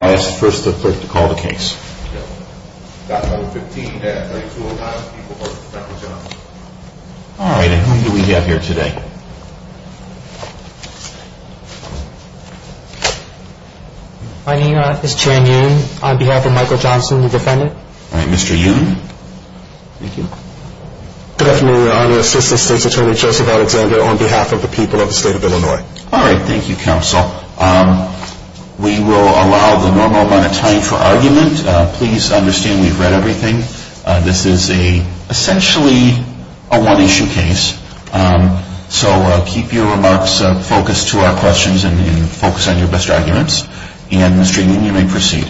on behalf of the people of the state of Illinois. All right. Thank you, Counsel. We will allow the normal amount of time for argument. Please understand we've read everything. This is essentially a one-issue case. So keep your remarks focused to our questions and focus on your best arguments. And Mr. Union, you may proceed.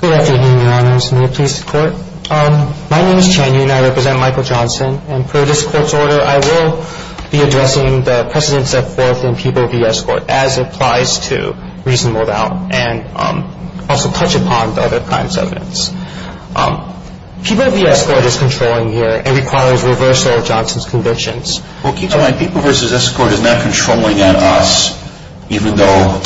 Good afternoon, Your Honors. May it please the Court? My name is Chan Yu, and I represent Michael Johnson. And per this Court's order, I will be addressing the precedents set forth in People v. Escort as it applies to reasonable doubt and also touch upon the other crimes evidence. People v. Escort is controlling here and requires reversal of Johnson's convictions. Well, keep in mind, People v. Escort is not controlling on us even though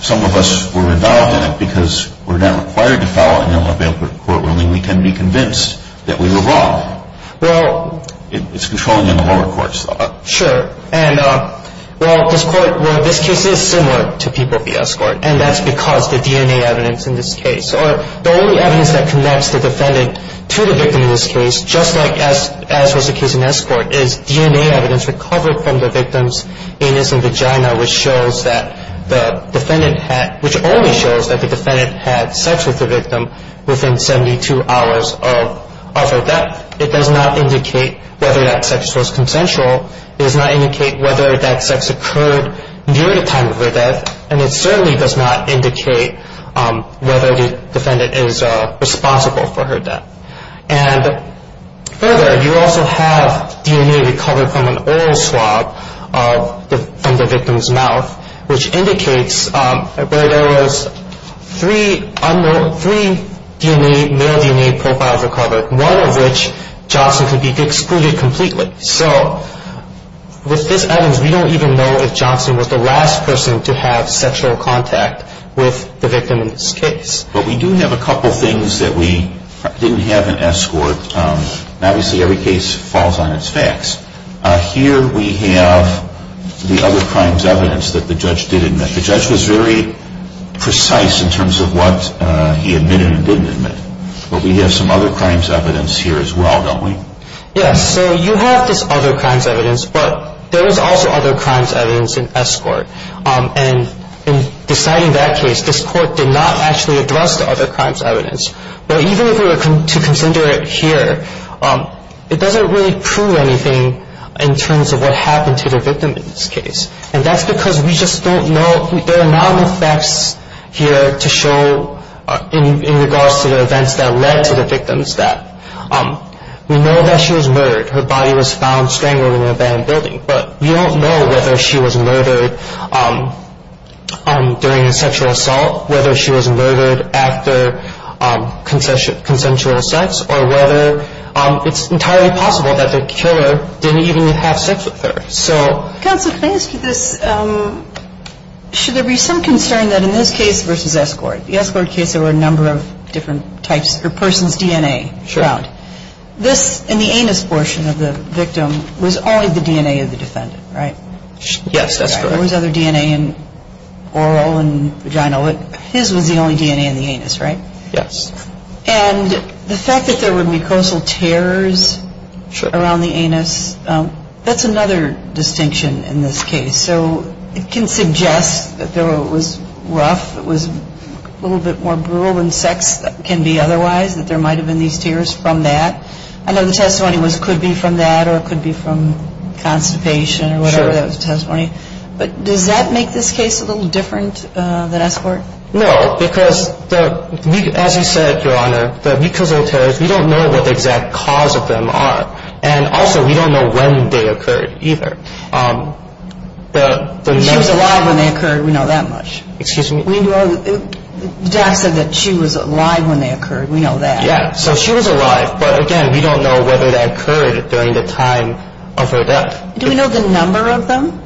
some of us were involved in it because we're not required to file an Illinois bail court ruling. We can be convinced that we were wrong. Well, it's controlling on the lower courts. Sure. Well, this case is similar to People v. Escort, and that's because the DNA evidence in this case or the only evidence that connects the defendant to the victim in this case, just like as was the case in Escort, is DNA evidence recovered from the victim's anus and vagina, which only shows that the defendant had sex with the victim within 72 hours of that. It does not indicate whether that sex was consensual. It does not indicate whether that sex occurred near the time of her death. And it certainly does not indicate whether the defendant is responsible for her death. And further, you also have DNA recovered from an oral swab from the victim's mouth, which indicates that there was three male DNA profiles recovered, one of which Johnson could be excluded completely. So with this evidence, we don't even know if Johnson was the last person to have sexual contact with the victim in this case. But we do have a couple things that we didn't have in Escort. Obviously, every case falls on its facts. Here we have the other crimes evidence that the judge did admit. The judge was very precise in terms of what he admitted and didn't admit. But we have some other crimes evidence here as well, don't we? Yes. So you have this other crimes evidence, but there was also other crimes evidence in Escort. And in deciding that case, this court did not actually address the other crimes evidence. But even if we were to consider it here, it doesn't really prove anything in terms of what happened to the victim in this case. And that's because we just don't know. There are not enough facts here to show in regards to the events that led to the victims death. We know that she was murdered. Her body was found strangled in an abandoned building. But we don't know whether she was murdered during a sexual assault, whether she was murdered after consensual sex, or whether it's entirely possible that the killer didn't even have sex with her. Counsel, can I ask you this? Should there be some concern that in this case versus Escort, the Escort case there were a number of different types of persons' DNA found. Sure. This, in the anus portion of the victim, was only the DNA of the defendant, right? Yes, that's correct. There was other DNA in oral and vaginal. His was the only DNA in the anus, right? Yes. And the fact that there were mucosal tears around the anus, that's another distinction in this case. So it can suggest that it was rough, it was a little bit more brutal than sex can be otherwise, that there might have been these tears from that. I know the testimony was it could be from that or it could be from constipation or whatever that was the testimony. But does that make this case a little different than Escort? No, because as you said, Your Honor, the mucosal tears, we don't know what the exact cause of them are. And also, we don't know when they occurred either. She was alive when they occurred, we know that much. Excuse me? The doc said that she was alive when they occurred, we know that. Yeah, so she was alive, but again, we don't know whether that occurred during the time of her death. Do we know the number of them?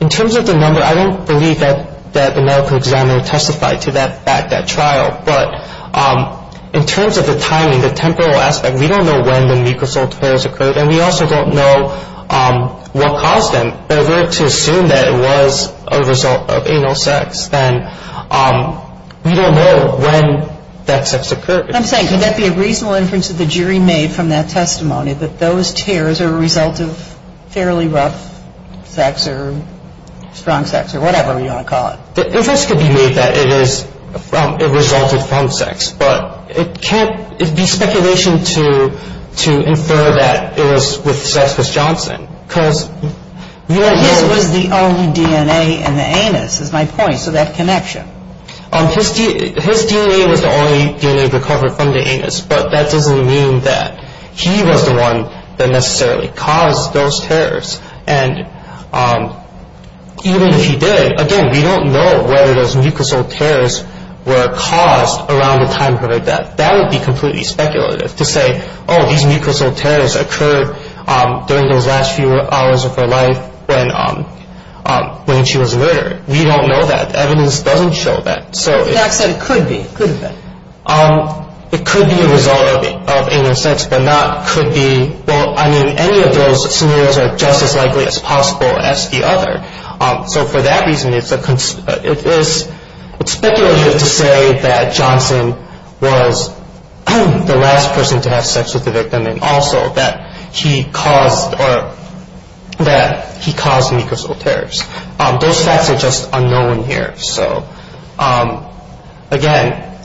In terms of the number, I don't believe that the medical examiner testified to that trial. But in terms of the timing, the temporal aspect, we don't know when the mucosal tears occurred and we also don't know what caused them. But if we were to assume that it was a result of anal sex, then we don't know when that sex occurred. I'm saying, could that be a reasonable inference that the jury made from that testimony that those tears are a result of fairly rough sex or strong sex or whatever you want to call it? The inference could be made that it resulted from sex. But it can't be speculation to infer that it was with sex with Johnson. His was the only DNA in the anus is my point, so that connection. His DNA was the only DNA recovered from the anus, but that doesn't mean that he was the one that necessarily caused those tears. And even if he did, again, we don't know whether those mucosal tears were caused around the time of her death. That would be completely speculative to say, oh, these mucosal tears occurred during those last few hours of her life when she was murdered. We don't know that. Evidence doesn't show that. So it could be. It could be a result of anal sex, but not could be. Well, I mean, any of those scenarios are just as likely as possible as the other. So for that reason, it's a it is speculative to say that Johnson was the last person to have sex with the victim and also that he caused or that he caused mucosal tears. Those facts are just unknown here. So, again,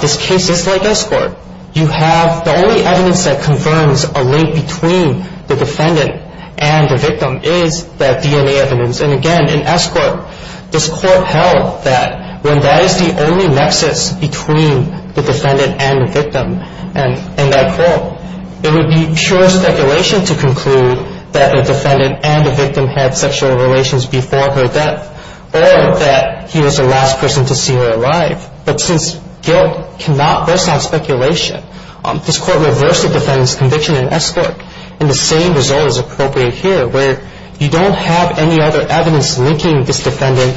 this case is like escort. You have the only evidence that confirms a link between the defendant and the victim is that DNA evidence. And again, in escort, this court held that when that is the only nexus between the defendant and the victim. And it would be pure speculation to conclude that the defendant and the victim had sexual relations before her death or that he was the last person to see her alive. But since guilt cannot burst out speculation, this court reversed the defendant's conviction in escort. And the same result is appropriate here where you don't have any other evidence linking this defendant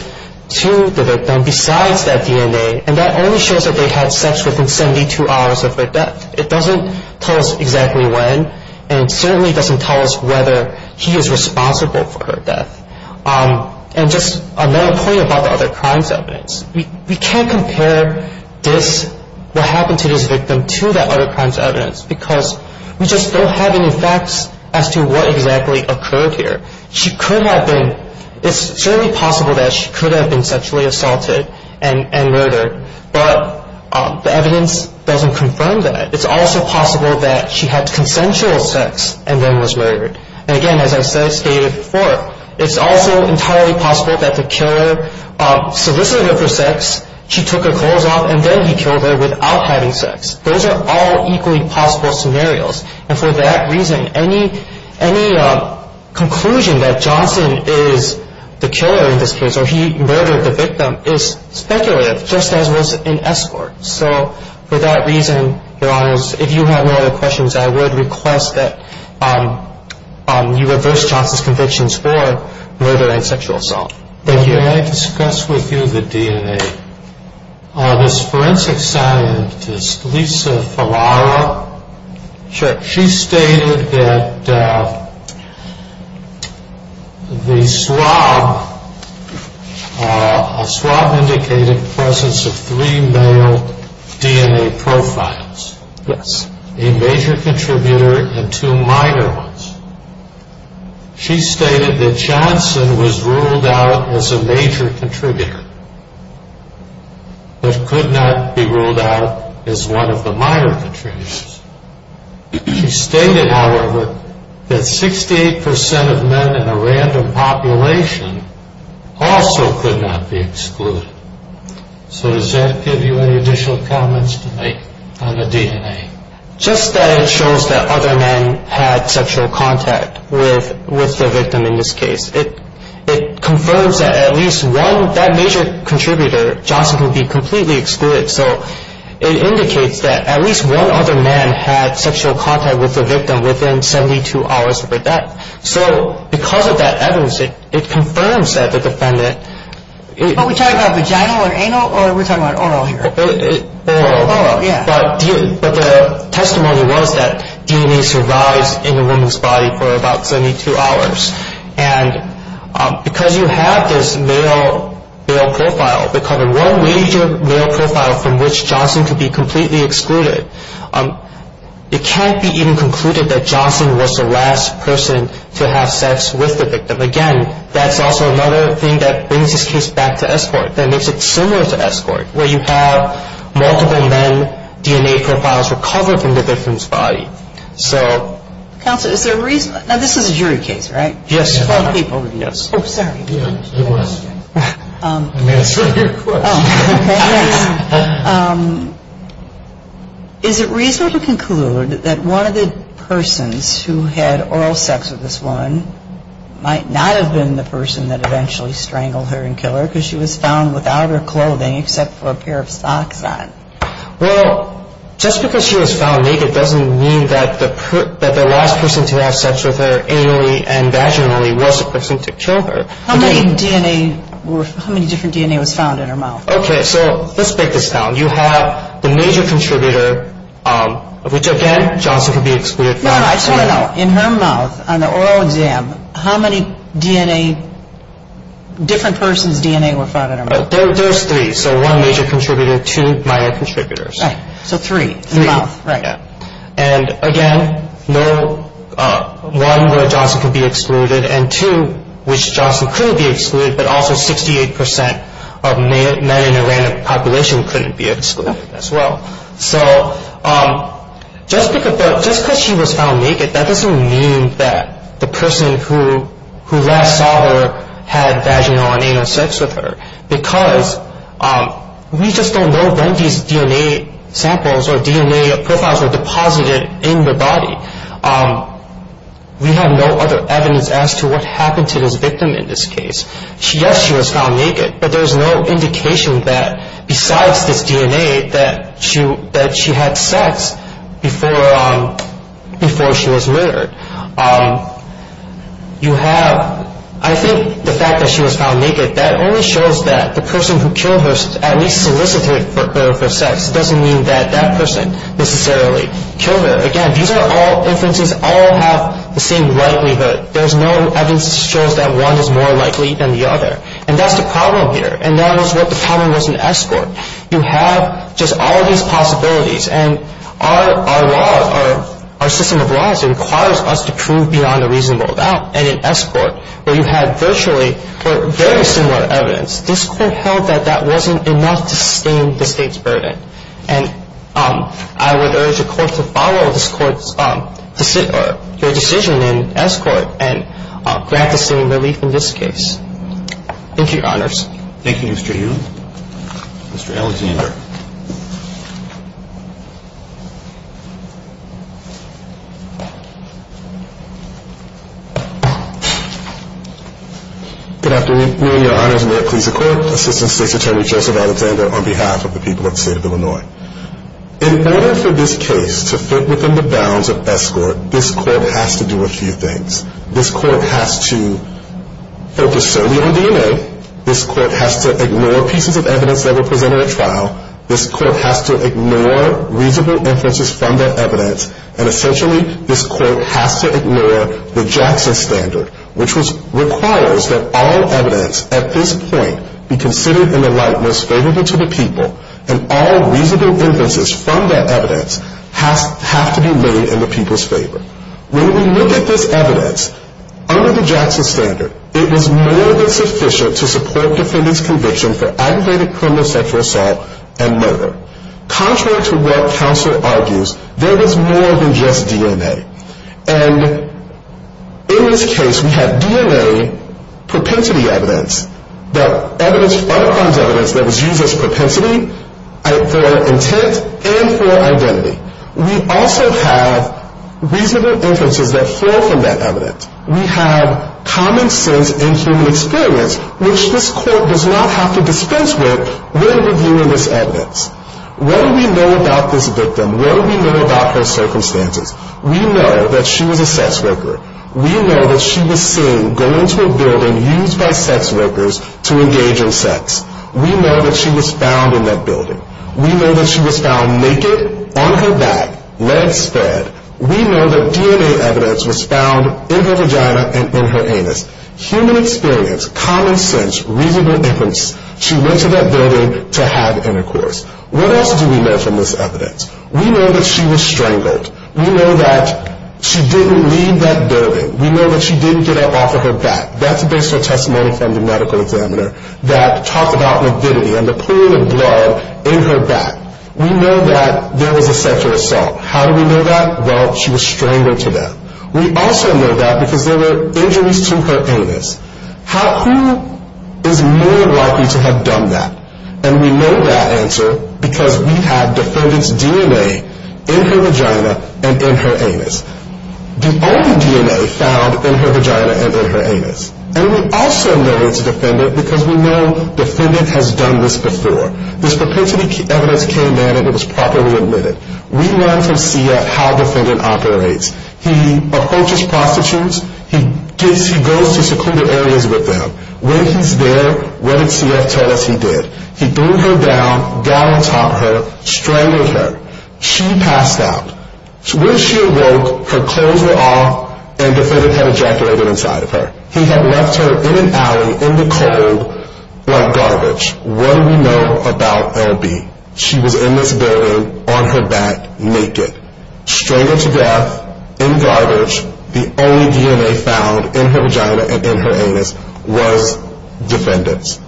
to the victim besides that DNA. And that only shows that they had sex within 72 hours of their death. It doesn't tell us exactly when and certainly doesn't tell us whether he is responsible for her death. And just another point about the other crimes evidence. We can't compare this what happened to this victim to that other crimes evidence because we just don't have any facts as to what exactly occurred here. It's certainly possible that she could have been sexually assaulted and murdered. But the evidence doesn't confirm that. It's also possible that she had consensual sex and then was murdered. And again, as I stated before, it's also entirely possible that the killer solicited her for sex, she took her clothes off, and then he killed her without having sex. Those are all equally possible scenarios. And for that reason, any conclusion that Johnson is the killer in this case or he murdered the victim is speculative just as was in escort. So for that reason, Your Honors, if you have no other questions, I would request that you reverse Johnson's convictions for murder and sexual assault. Thank you. May I discuss with you the DNA? This forensic scientist, Lisa Falara, she stated that the swab indicated the presence of three male DNA profiles. Yes. A major contributor and two minor ones. She stated that Johnson was ruled out as a major contributor but could not be ruled out as one of the minor contributors. She stated, however, that 68% of men in a random population also could not be excluded. So does that give you any additional comments to make on the DNA? Just that it shows that other men had sexual contact with the victim in this case. It confirms that at least one, that major contributor, Johnson, can be completely excluded. So it indicates that at least one other man had sexual contact with the victim within 72 hours of her death. So because of that evidence, it confirms that the defendant... Are we talking about vaginal or anal or are we talking about oral here? Oral. Oral, yeah. But the testimony was that DNA survives in a woman's body for about 72 hours. And because you have this male profile, because of one major male profile from which Johnson could be completely excluded, it can't be even concluded that Johnson was the last person to have sex with the victim. Again, that's also another thing that brings this case back to escort. That makes it similar to escort, where you have multiple men, DNA profiles recovered from the victim's body. So... Counsel, is there a reason... Now, this is a jury case, right? Yes. Oh, sorry. Yeah, it was. Let me answer your question. Okay, yes. Is it reasonable to conclude that one of the persons who had oral sex with this woman might not have been the person that eventually strangled her and killed her because she was found without her clothing except for a pair of socks on? Well, just because she was found naked doesn't mean that the last person to have sex with her anally and vaginally was the person to kill her. How many different DNA was found in her mouth? Okay, so let's break this down. You have the major contributor, which, again, Johnson could be excluded from. I just want to know, in her mouth, on the oral exam, how many different person's DNA were found in her mouth? There's three. So one major contributor, two minor contributors. Right, so three in the mouth. Three. Right. And, again, one, where Johnson could be excluded, and two, which Johnson couldn't be excluded, but also 68% of men in a random population couldn't be excluded as well. So just because she was found naked, that doesn't mean that the person who last saw her had vaginal and anal sex with her because we just don't know when these DNA samples or DNA profiles were deposited in the body. We have no other evidence as to what happened to this victim in this case. Yes, she was found naked, but there's no indication that, besides this DNA, that she had sex before she was murdered. You have, I think, the fact that she was found naked, that only shows that the person who killed her at least solicited her for sex. It doesn't mean that that person necessarily killed her. Again, these are all inferences, all have the same likelihood. There's no evidence that shows that one is more likely than the other, and that's the problem here, and that is what the problem was in S Court. You have just all of these possibilities, and our system of laws requires us to prove beyond a reasonable doubt. And in S Court, where you had virtually very similar evidence, this Court held that that wasn't enough to sustain the State's burden. And I would urge the Court to follow this Court's decision in S Court and grant the same relief in this case. Thank you, Your Honors. Thank you, Mr. Yu. Mr. Alexander. Good afternoon, Your Honors. Assistant State's Attorney, Joseph Alexander, on behalf of the people of the State of Illinois. In order for this case to fit within the bounds of S Court, this Court has to do a few things. This Court has to focus solely on DNA. This Court has to ignore pieces of evidence that were presented at trial. This Court has to ignore reasonable inferences from that evidence. And essentially, this Court has to ignore the Jackson Standard, which requires that all evidence at this point be considered in the light most favorable to the people, and all reasonable inferences from that evidence have to be made in the people's favor. When we look at this evidence, under the Jackson Standard, it was more than sufficient to support defendants' conviction for aggravated criminal sexual assault and murder. Contrary to what counsel argues, there was more than just DNA. And in this case, we have DNA propensity evidence, the evidence, other kinds of evidence that was used as propensity for intent and for identity. We also have reasonable inferences that flow from that evidence. We have common sense and human experience, which this Court does not have to dispense with when reviewing this evidence. What do we know about this victim? What do we know about her circumstances? We know that she was a sex worker. We know that she was seen going to a building used by sex workers to engage in sex. We know that she was found in that building. We know that she was found naked, on her back, legs spread. We know that DNA evidence was found in her vagina and in her anus. Human experience, common sense, reasonable inference. She went to that building to have intercourse. What else do we know from this evidence? We know that she was strangled. We know that she didn't leave that building. We know that she didn't get up off of her back. That's based on testimony from the medical examiner that talked about morbidity and the pool of blood in her back. We know that there was a sexual assault. How do we know that? Well, she was strangled to death. We also know that because there were injuries to her anus. Who is more likely to have done that? And we know that answer because we have defendant's DNA in her vagina and in her anus. The only DNA found in her vagina and in her anus. And we also know it's a defendant because we know defendant has done this before. This propensity evidence came in and it was properly admitted. We learned from SIA how defendant operates. He approaches prostitutes. He goes to secluded areas with them. When he's there, what did CF tell us he did? He threw her down, down-and-topped her, strangled her. She passed out. When she awoke, her clothes were off and defendant had ejaculated inside of her. He had left her in an alley in the cold like garbage. What do we know about L.B.? She was in this building on her back naked. Strangled to death in garbage. The only DNA found in her vagina and in her anus was defendant's.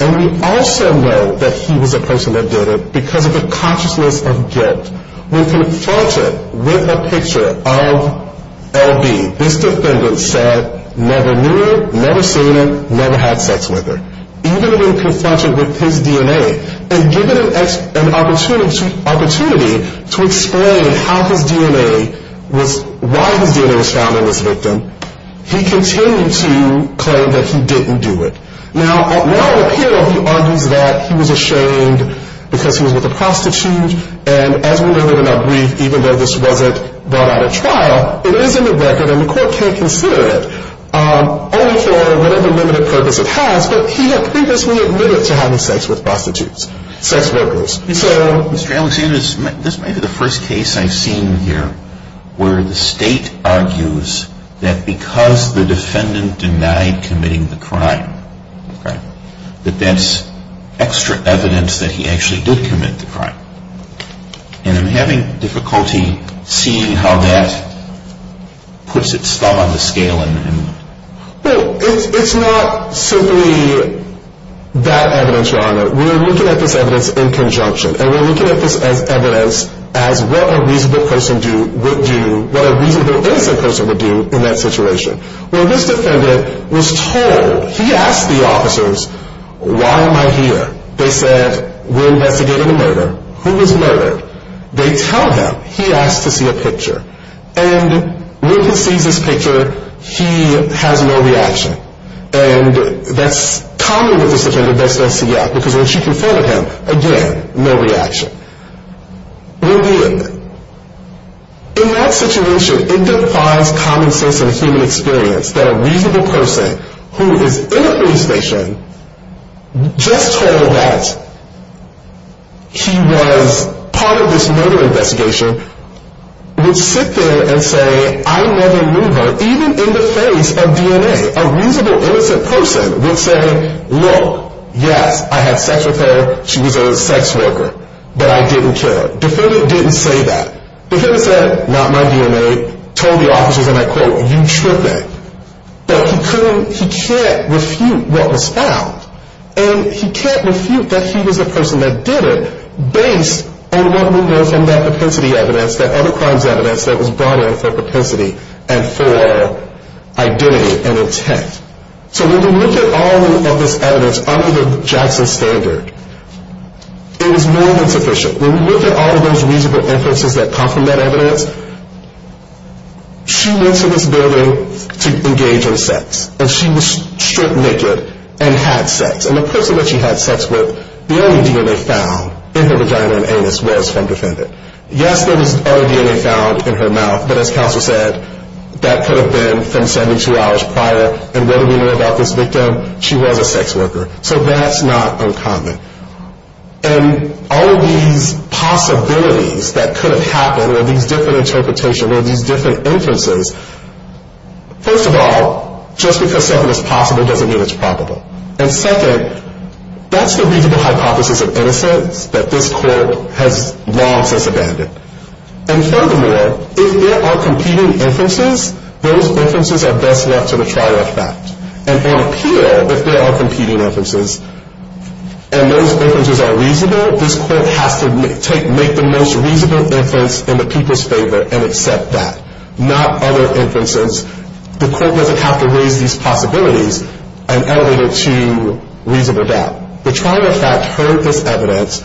And we also know that he was a person that did it because of a consciousness of guilt. When confronted with a picture of L.B., this defendant said, never knew her, never seen her, never had sex with her. Even when confronted with his DNA and given an opportunity to explain how his DNA was, why his DNA was found in this victim, he continued to claim that he didn't do it. Now, in the appeal, he argues that he was ashamed because he was with a prostitute. And as we learned in our brief, even though this wasn't brought out of trial, it is in the record and the court can't consider it only for whatever limited purpose it has. But he had previously admitted to having sex with prostitutes, sex workers. So, Mr. Alexander, this may be the first case I've seen here where the state argues that because the defendant denied committing the crime, okay, that that's extra evidence that he actually did commit the crime. And I'm having difficulty seeing how that puts its thumb on the scale. Well, it's not simply that evidence, Your Honor. We're looking at this evidence in conjunction. And we're looking at this as evidence as what a reasonable person would do, what a reasonable innocent person would do in that situation. When this defendant was told, he asked the officers, why am I here? They said, we're investigating a murder. Who was murdered? They tell him. He asked to see a picture. And when he sees this picture, he has no reaction. And that's common with this defendant that's not seen yet. Because when she confronted him, again, no reaction. In that situation, it defies common sense and human experience that a reasonable person who is in a police station just told that he was part of this murder investigation would sit there and say, I never knew her, even in the face of DNA. A reasonable innocent person would say, look, yes, I had sex with her. She was a sex worker. But I didn't kill her. Defendant didn't say that. Defendant said, not my DNA, told the officers, and I quote, you tripping. But he couldn't, he can't refute what was found. And he can't refute that he was the person that did it based on what we know from that propensity evidence, that other crimes evidence that was brought in for propensity and for identity and intent. So when we look at all of this evidence under the Jackson standard, it was more than sufficient. When we look at all of those reasonable inferences that come from that evidence, she went to this building to engage in sex. And she was stripped naked and had sex. And the person that she had sex with, the only DNA found in her vagina and anus was from defendant. Yes, there was other DNA found in her mouth, but as counsel said, that could have been from 72 hours prior. And what do we know about this victim? She was a sex worker. So that's not uncommon. And all of these possibilities that could have happened, or these different interpretations, or these different inferences, first of all, just because something is possible doesn't mean it's probable. And second, that's the reasonable hypothesis of innocence that this court has long since abandoned. And furthermore, if there are competing inferences, those inferences are best left to the trial of fact. And on appeal, if there are competing inferences, and those inferences are reasonable, this court has to make the most reasonable inference in the people's favor and accept that. Not other inferences. The court doesn't have to raise these possibilities and elevate it to reasonable doubt. The trial of fact heard this evidence,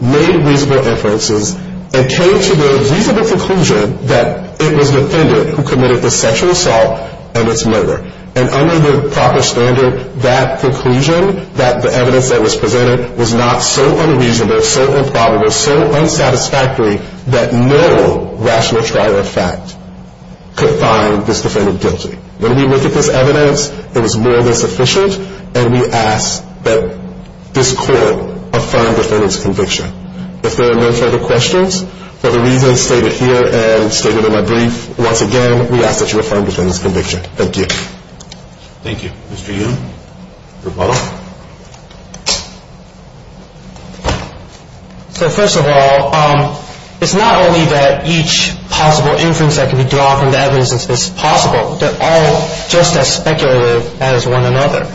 made reasonable inferences, and came to the reasonable conclusion that it was the defendant who committed the sexual assault and its murder. And under the proper standard, that conclusion, that the evidence that was presented, was not so unreasonable, so improbable, so unsatisfactory that no rational trial of fact could find this defendant guilty. When we look at this evidence, it was more than sufficient. And we ask that this court affirm the defendant's conviction. If there are no further questions, for the reasons stated here and stated in my brief, once again, we ask that you affirm the defendant's conviction. Thank you. Thank you. Mr. Yun, rebuttal. So first of all, it's not only that each possible inference that can be drawn from the evidence is possible. They're all just as speculative as one another.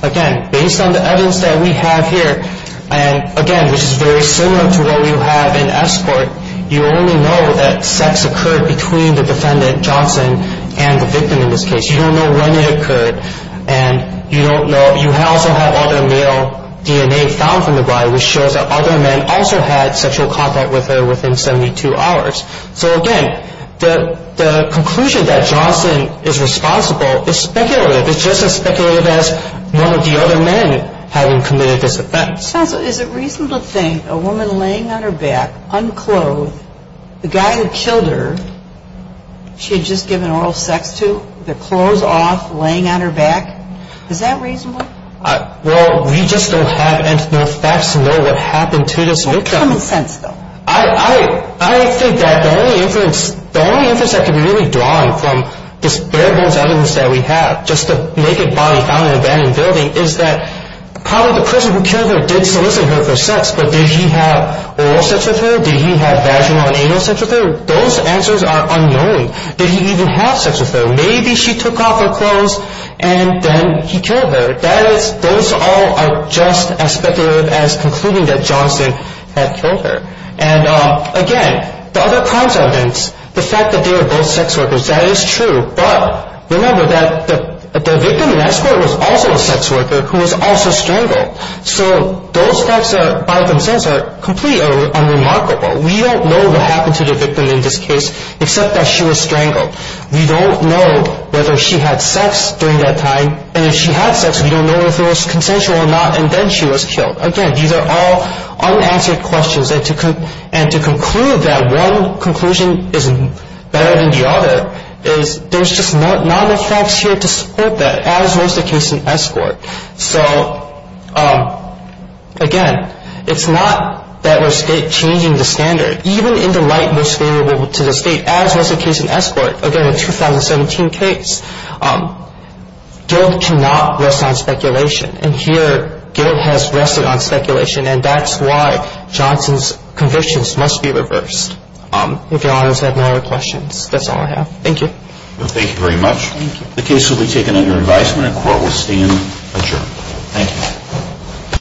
Again, based on the evidence that we have here, and again, which is very similar to what we have in S court, you only know that sex occurred between the defendant, Johnson, and the victim in this case. You don't know when it occurred. And you also have other male DNA found from the body, which shows that other men also had sexual contact with her within 72 hours. So, again, the conclusion that Johnson is responsible is speculative. It's just as speculative as one of the other men having committed this offense. Counsel, is it reasonable to think a woman laying on her back, unclothed, the guy who killed her, she had just given oral sex to, the clothes off, laying on her back, is that reasonable? Well, we just don't have any facts to know what happened to this victim. What's common sense, though? I think that the only inference that can really be drawn from this bare bones evidence that we have, just the naked body found in an abandoned building, is that probably the person who killed her did solicit her for sex, but did he have oral sex with her? Did he have vaginal and anal sex with her? Those answers are unknowing. Did he even have sex with her? Maybe she took off her clothes and then he killed her. Those all are just as speculative as concluding that Johnson had killed her. And, again, the other crimes evidence, the fact that they were both sex workers, that is true. But remember that the victim in that story was also a sex worker who was also strangled. So those facts by themselves are completely unremarkable. We don't know what happened to the victim in this case except that she was strangled. We don't know whether she had sex during that time. And if she had sex, we don't know if it was consensual or not, and then she was killed. Again, these are all unanswered questions. And to conclude that one conclusion is better than the other is there's just not enough facts here to support that, as was the case in Escort. So, again, it's not that we're changing the standard. Even in the light most favorable to the state, as was the case in Escort, again, a 2017 case, guilt cannot rest on speculation. And here guilt has rested on speculation, and that's why Johnson's convictions must be reversed. If Your Honors have no other questions, that's all I have. Thank you. Thank you very much. The case will be taken under advisement and court will stand adjourned. Thank you.